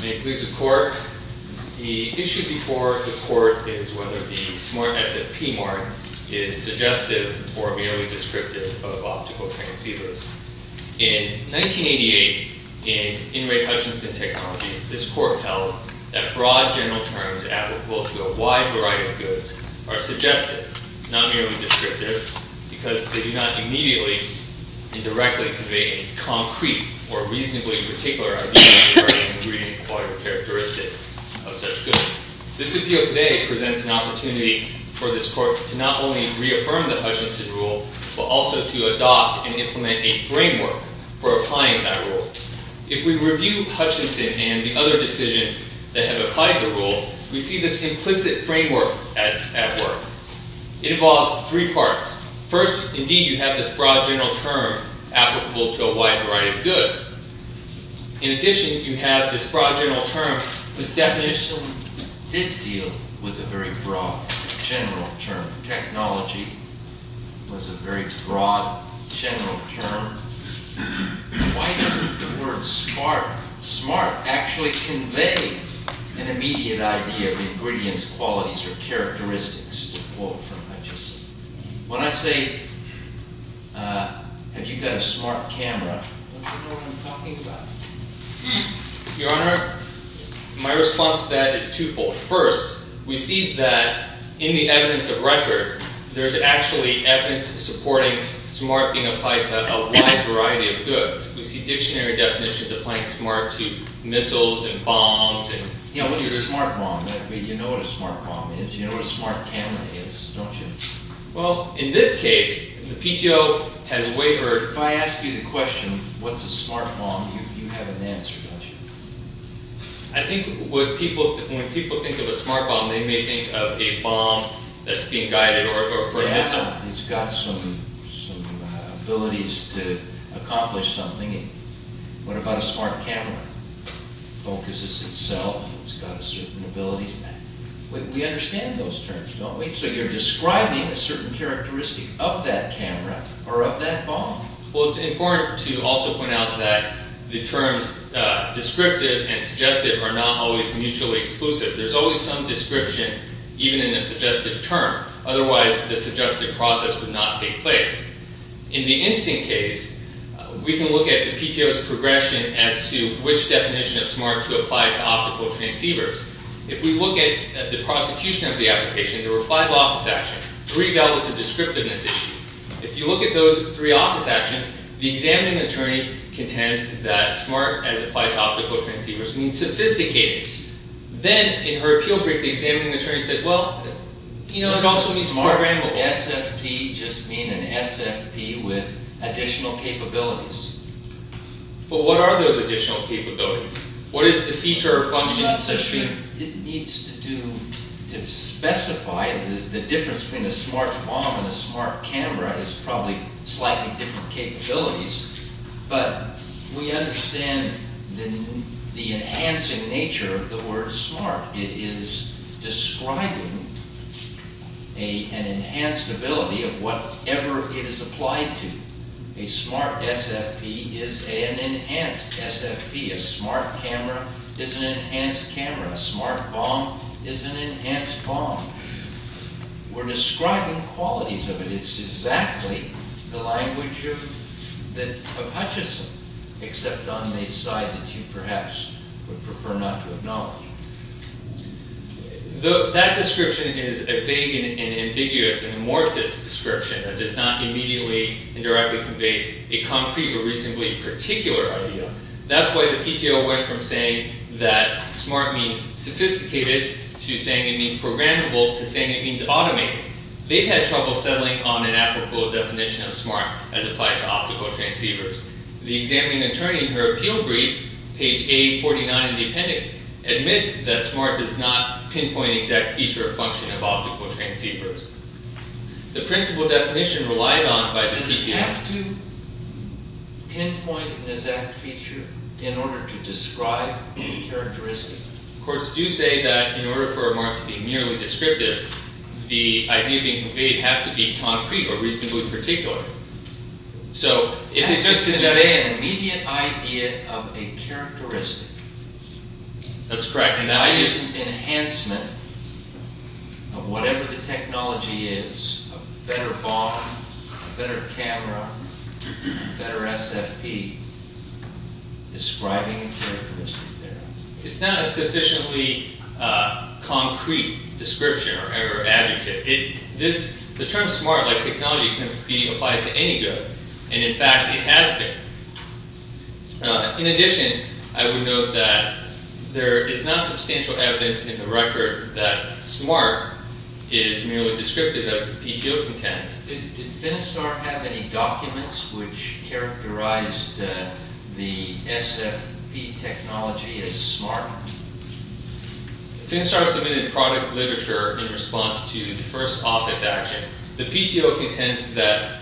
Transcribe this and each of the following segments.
May it please the Court. The issue before the Court is whether the SMART SF P-Mart is suggestive or merely descriptive of optical transceivers. In 1988, in In Ray Hutchinson Technology, this Court held that broad general terms adequate to a wide variety of goods are suggestive, not merely descriptive, because they do not immediately and directly convey any concrete or reasonably particular idea of a person agreeing to acquire a characteristic of such goods. This appeal today presents an opportunity for this Court to not only reaffirm the Hutchinson Rule, but also to adopt and implement a framework for applying that rule. If we review Hutchinson and the other decisions that have applied the rule, we see this implicit framework at work. It involves three parts. First, indeed, you have this broad general term applicable to a wide variety of goods. In addition, you have this broad general term whose definition did deal with a very broad general term. Technology was a very broad general term. Why doesn't the word SMART actually convey an immediate idea of ingredients, qualities, or characteristics to quote from Hutchinson? When I say, have you got a SMART camera, don't you know what I'm talking about? Your Honor, my response to that is twofold. First, we see that in the evidence of record, there's actually evidence supporting SMART being applied to a wide variety of goods. We see dictionary definitions applying SMART to missiles and bombs. Yeah, what's a SMART bomb? You know what a SMART bomb is. You know what a SMART camera is, don't you? Well, in this case, the PTO has wavered. Your Honor, if I ask you the question, what's a SMART bomb, you have an answer, don't you? I think when people think of a SMART bomb, they may think of a bomb that's being guided for a missile. It's got some abilities to accomplish something. What about a SMART camera? It focuses itself, it's got certain abilities. We understand those terms, don't we? So you're describing a certain characteristic of that camera or of that bomb. Well, it's important to also point out that the terms descriptive and suggestive are not always mutually exclusive. There's always some description, even in a suggestive term. Otherwise, the suggestive process would not take place. In the instant case, we can look at the PTO's progression as to which definition of SMART to apply to optical transceivers. If we look at the prosecution of the application, there were five office actions. Three dealt with the descriptiveness issue. If you look at those three office actions, the examining attorney contends that SMART as applied to optical transceivers means sophisticated. Then, in her appeal brief, the examining attorney said, well, you know, it also means programmable. SMART and SFP just mean an SFP with additional capabilities. But what are those additional capabilities? What is the feature or function? It needs to specify the difference between a SMART bomb and a SMART camera is probably slightly different capabilities. But we understand the enhancing nature of the word SMART. It is describing an enhanced ability of whatever it is applied to. A SMART SFP is an enhanced SFP. A SMART camera is an enhanced camera. A SMART bomb is an enhanced bomb. We're describing qualities of it. It's exactly the language of Hutchison, except on the side that you perhaps would prefer not to acknowledge. That description is a vague and ambiguous and amorphous description that does not immediately and directly convey a concrete or reasonably particular idea. That's why the PTO went from saying that SMART means sophisticated to saying it means programmable to saying it means automated. They've had trouble settling on an apropos definition of SMART as applied to optical transceivers. The examining attorney in her appeal brief, page 849 of the appendix, admits that SMART does not pinpoint an exact feature or function of optical transceivers. The principle definition relied on by the PTO... Does it have to pinpoint an exact feature in order to describe a characteristic? Courts do say that in order for a SMART to be merely descriptive, the idea being conveyed has to be concrete or reasonably particular. It has to convey an immediate idea of a characteristic. That's correct. By using enhancement of whatever the technology is, a better bomb, a better camera, a better SFP, describing a characteristic there. It's not a sufficiently concrete description or adjective. The term SMART, like technology, can't be applied to any good. In fact, it has been. In addition, I would note that there is not substantial evidence in the record that SMART is merely descriptive of the PTO contents. Did Finistar have any documents which characterized the SFP technology as SMART? Finistar submitted product literature in response to the first office action. The PTO contends that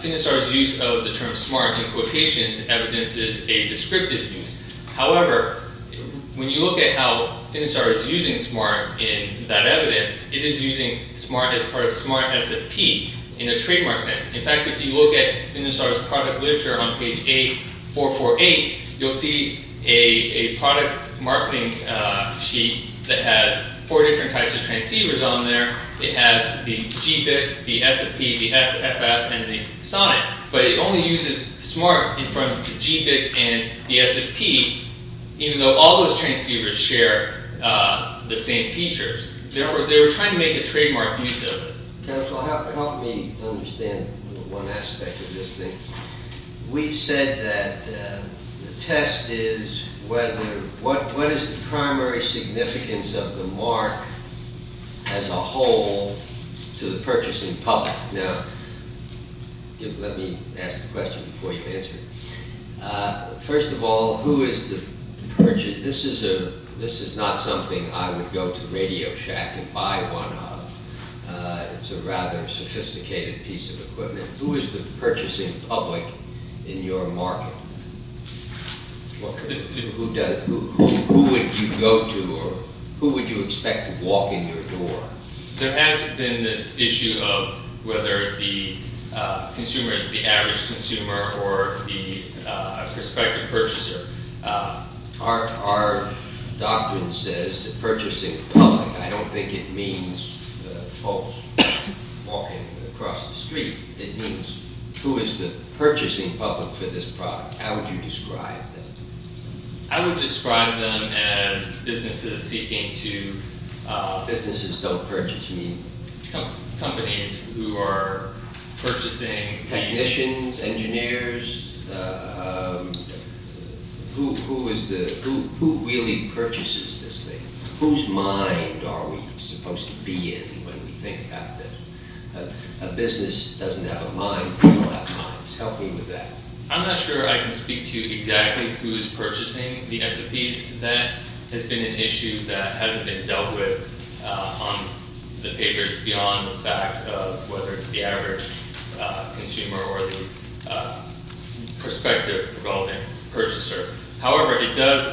Finistar's use of the term SMART in quotations evidences a descriptive use. However, when you look at how Finistar is using SMART in that evidence, it is using SMART as part of SMART SFP in a trademark sense. In fact, if you look at Finistar's product literature on page 8448, you'll see a product marketing sheet that has four different types of transceivers on there. It has the GBIC, the SFP, the SFF, and the SONIC. But it only uses SMART in front of the GBIC and the SFP, even though all those transceivers share the same features. Therefore, they were trying to make a trademark use of it. Counselor, help me understand one aspect of this thing. We've said that the test is what is the primary significance of the mark as a whole to the purchasing public. Now, let me ask the question before you answer it. First of all, this is not something I would go to Radio Shack and buy one of. It's a rather sophisticated piece of equipment. Who is the purchasing public in your market? Who would you go to or who would you expect to walk in your door? There has been this issue of whether the consumer is the average consumer or the prospective purchaser. Our doctrine says that purchasing public, I don't think it means folks walking across the street. It means who is the purchasing public for this product. How would you describe that? I would describe them as businesses seeking to— Businesses don't purchase, you mean? Companies who are purchasing— Technicians, engineers, who really purchases this thing? Whose mind are we supposed to be in when we think about this? A business doesn't have a mind, we don't have minds. Help me with that. I'm not sure I can speak to exactly who is purchasing the S&Ps. That has been an issue that hasn't been dealt with on the papers beyond the fact of whether it's the average consumer or the prospective relevant purchaser. However, it does—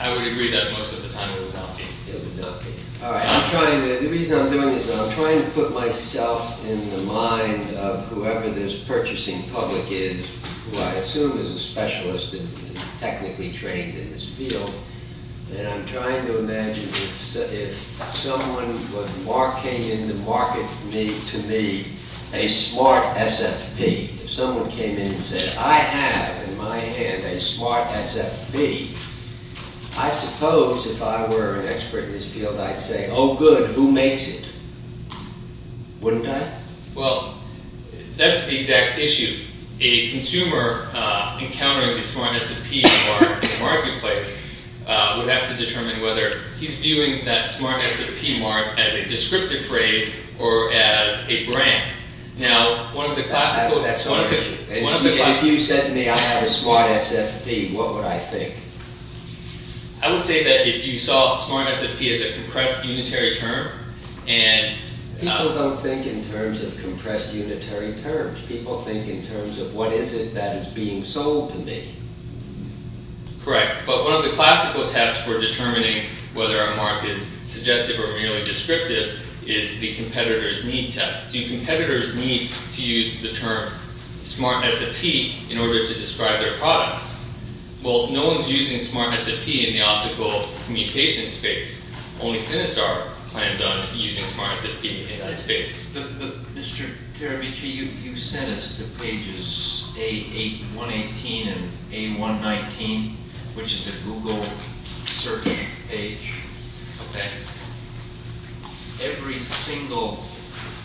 I would agree that most of the time it would not be. It would not be. The reason I'm doing this is I'm trying to put myself in the mind of whoever this purchasing public is, who I assume is a specialist and technically trained in this field. I'm trying to imagine if someone came in to market to me a smart SFP. If someone came in and said, I have in my hand a smart SFP, I suppose if I were an expert in this field I'd say, oh good, who makes it? Wouldn't I? Well, that's the exact issue. A consumer encountering the smart SFP in the marketplace would have to determine whether he's viewing that smart SFP mark as a descriptive phrase or as a brand. If you said to me, I have a smart SFP, what would I think? I would say that if you saw smart SFP as a compressed unitary term and— People don't think in terms of compressed unitary terms. People think in terms of what is it that is being sold to me. Correct. But one of the classical tests for determining whether a mark is suggestive or merely descriptive is the competitor's need test. Do competitors need to use the term smart SFP in order to describe their products? Well, no one's using smart SFP in the optical communication space. Only Finisar plans on using smart SFP in that space. Mr. Karamichi, you sent us to pages A118 and A119, which is a Google search page. Okay. Every single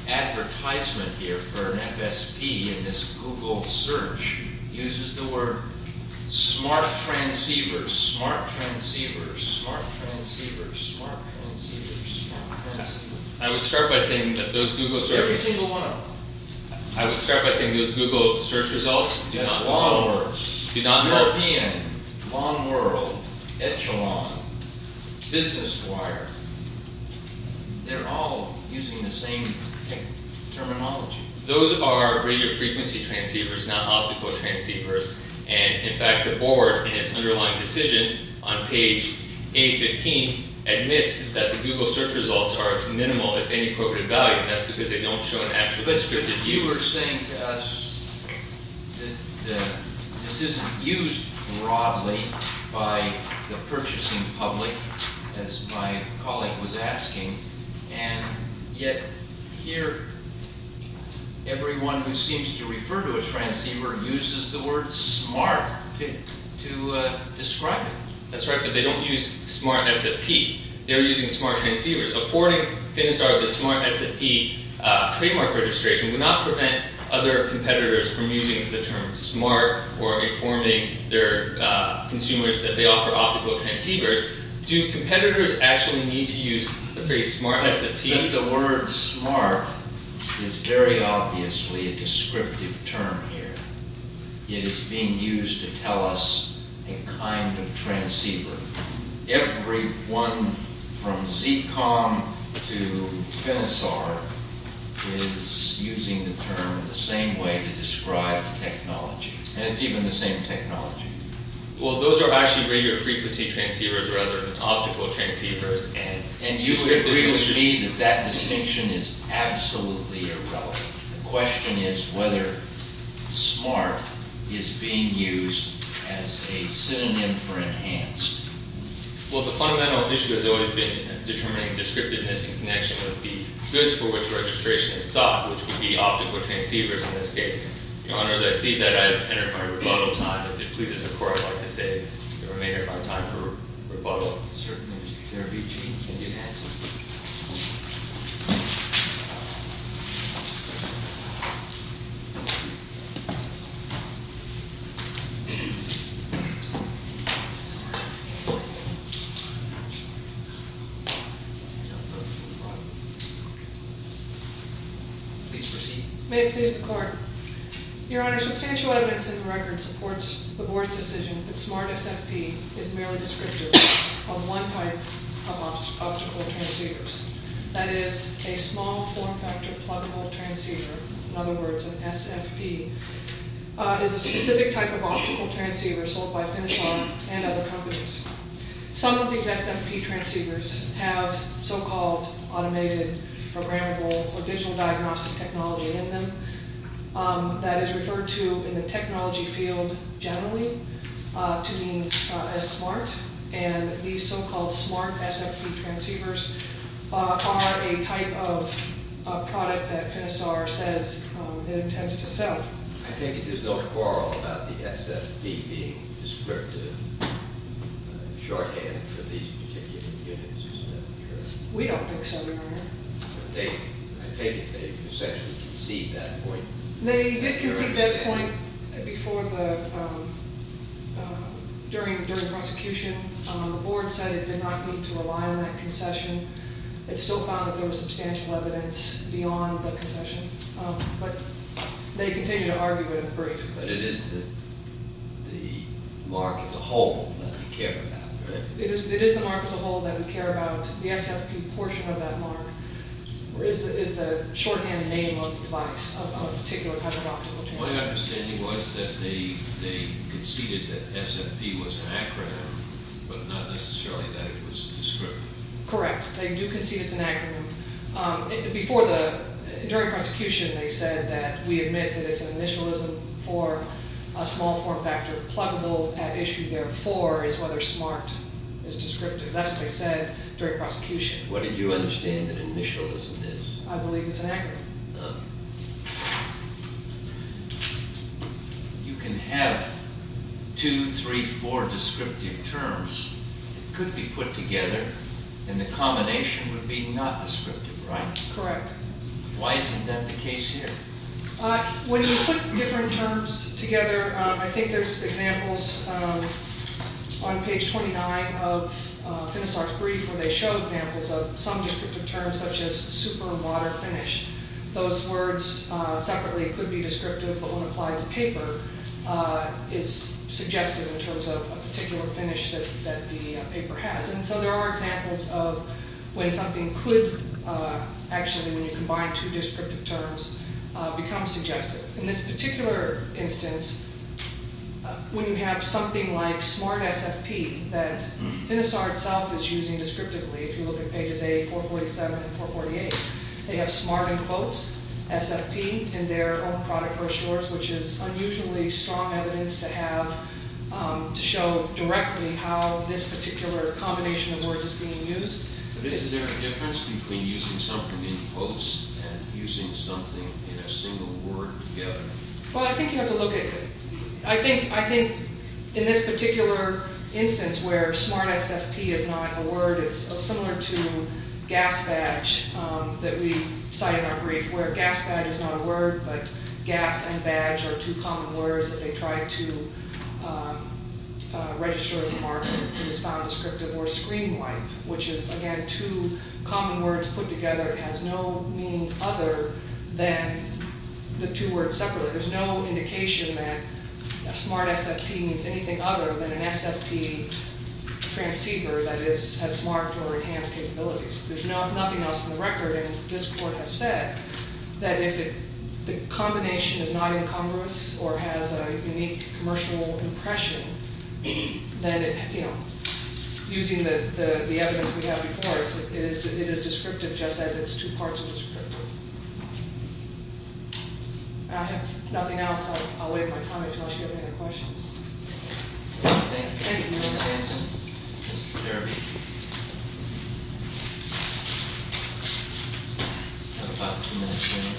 advertisement here for an FSP in this Google search uses the word smart transceiver, smart transceiver, smart transceiver, smart transceiver, smart transceiver. I would start by saying that those Google searches— Every single one of them. I would start by saying those Google search results do not work. European, long world, echelon, business wire, they're all using the same terminology. Those are radio frequency transceivers, not optical transceivers. And, in fact, the board, in its underlying decision on page A15, admits that the Google search results are of minimal, if any, appropriate value. That's because they don't show an actual descriptive use. You were saying to us that this isn't used broadly by the purchasing public, as my colleague was asking, and yet, here, everyone who seems to refer to a transceiver uses the word smart to describe it. That's right, but they don't use smart SFP. They're using smart transceivers. Affording Finistar the smart SFP trademark registration would not prevent other competitors from using the term smart or informing their consumers that they offer optical transceivers. Do competitors actually need to use the phrase smart SFP? The word smart is very obviously a descriptive term here. It is being used to tell us a kind of transceiver. Everyone from Zcom to Finistar is using the term the same way to describe technology. And it's even the same technology. Well, those are actually radio frequency transceivers rather than optical transceivers. And you would agree with me that that distinction is absolutely irrelevant. The question is whether smart is being used as a synonym for enhanced. Well, the fundamental issue has always been determining descriptiveness in connection with the goods for which registration is sought, which would be optical transceivers in this case. Your Honors, I see that I have entered my rebuttal time. If it pleases the Court, I'd like to say that I may have my time for rebuttal. Certainly, Mr. Carabucci. Thank you. Please proceed. Your Honors, substantial evidence in the record supports the Board's decision that smart SFP is merely descriptive of one type of optical transceivers. That is, a small form-factor pluggable transceiver, in other words, an SFP, is a specific type of optical transceiver sold by Finistar and other companies. Some of these SFP transceivers have so-called automated, programmable, or digital diagnostic technology in them. That is referred to in the technology field generally to mean as smart. And these so-called smart SFP transceivers are a type of product that Finistar says it intends to sell. I think there's no quarrel about the SFP being descriptive, shorthand for these particular units. We don't think so, Your Honor. I think they essentially concede that point. They did concede that point during the prosecution. The Board said it did not need to rely on that concession. It still found that there was substantial evidence beyond the concession. But they continue to argue it in the brief. But it is the mark as a whole that we care about, right? It's the shorthand name of the device, of a particular type of optical transceiver. My understanding was that they conceded that SFP was an acronym, but not necessarily that it was descriptive. Correct. They do concede it's an acronym. During prosecution, they said that we admit that it's an initialism for a small form factor pluggable at issue. Therefore, it's whether smart is descriptive. That's what they said during prosecution. What did you understand that initialism is? I believe it's an acronym. You can have two, three, four descriptive terms that could be put together, and the combination would be not descriptive, right? Correct. Why isn't that the case here? When you put different terms together, I think there's examples on page 29 of Finisar's brief, where they show examples of some descriptive terms, such as super, water, finish. Those words separately could be descriptive, but when applied to paper, it's suggested in terms of a particular finish that the paper has. There are examples of when something could actually, when you combine two descriptive terms, become suggestive. In this particular instance, when you have something like smart SFP that Finisar itself is using descriptively, if you look at pages 8, 447, and 448, they have smart in quotes, SFP in their own product brochures, which is unusually strong evidence to have to show directly how this particular combination of words is being used. But isn't there a difference between using something in quotes and using something in a single word together? Well, I think you have to look at, I think in this particular instance where smart SFP is not a word, it's similar to gas badge that we cite in our brief, where gas badge is not a word, but gas and badge are two common words that they try to register as a mark that is found descriptive, or screen wipe, which is, again, two common words put together. It has no meaning other than the two words separately. There's no indication that smart SFP means anything other than an SFP transceiver that has smart or enhanced capabilities. There's nothing else in the record, and this court has said that if the combination is not incongruous or has a unique commercial impression, then it, you know, using the evidence we have before us, it is descriptive just as it's two parts of descriptive. I have nothing else. I'll waive my time until I see if there are any questions. Thank you. Thank you, Mr. Hanson. Mr. Derby. We have about two minutes remaining.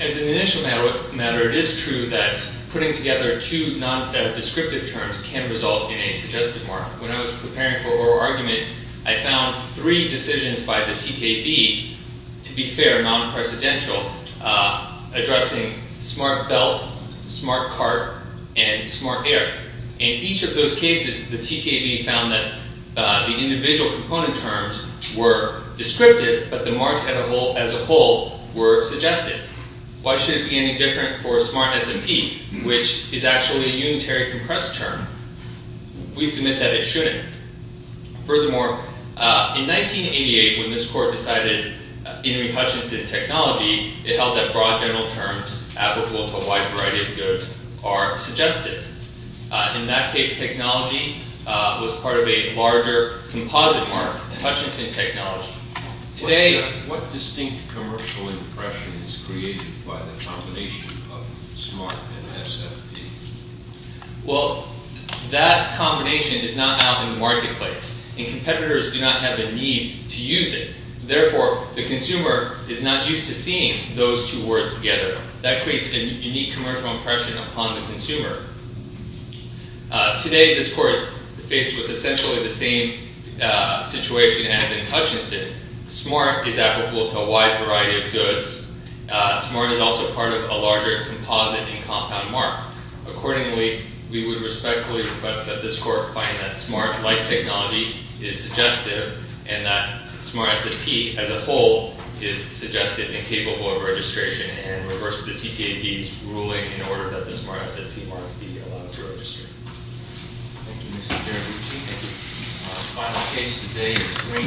As an initial matter, it is true that putting together two non-descriptive terms can result in a suggested mark. When I was preparing for oral argument, I found three decisions by the TTAB, to be fair, non-precedential, addressing smart belt, smart cart, and smart air. In each of those cases, the TTAB found that the individual component terms were descriptive, but the marks as a whole were suggested. Why should it be any different for smart SFP, which is actually a unitary compressed term? We submit that it shouldn't. Furthermore, in 1988, when this Court decided in Hutchinson technology, it held that broad general terms applicable to a wide variety of goods are suggested. In that case, technology was part of a larger composite mark, Hutchinson technology. What distinct commercial impression is created by the combination of smart and SFP? That combination is not out in the marketplace, and competitors do not have a need to use it. Therefore, the consumer is not used to seeing those two words together. That creates a unique commercial impression upon the consumer. Today, this Court is faced with essentially the same situation as in Hutchinson. Smart is applicable to a wide variety of goods. Smart is also part of a larger composite and compound mark. Accordingly, we would respectfully request that this Court find that smart-like technology is suggestive and that smart SFP as a whole is suggestive and capable of registration and reverse the TTAB's ruling in order that the smart SFP mark be allowed to register. Thank you, Mr. Chairman. The final case today is Green.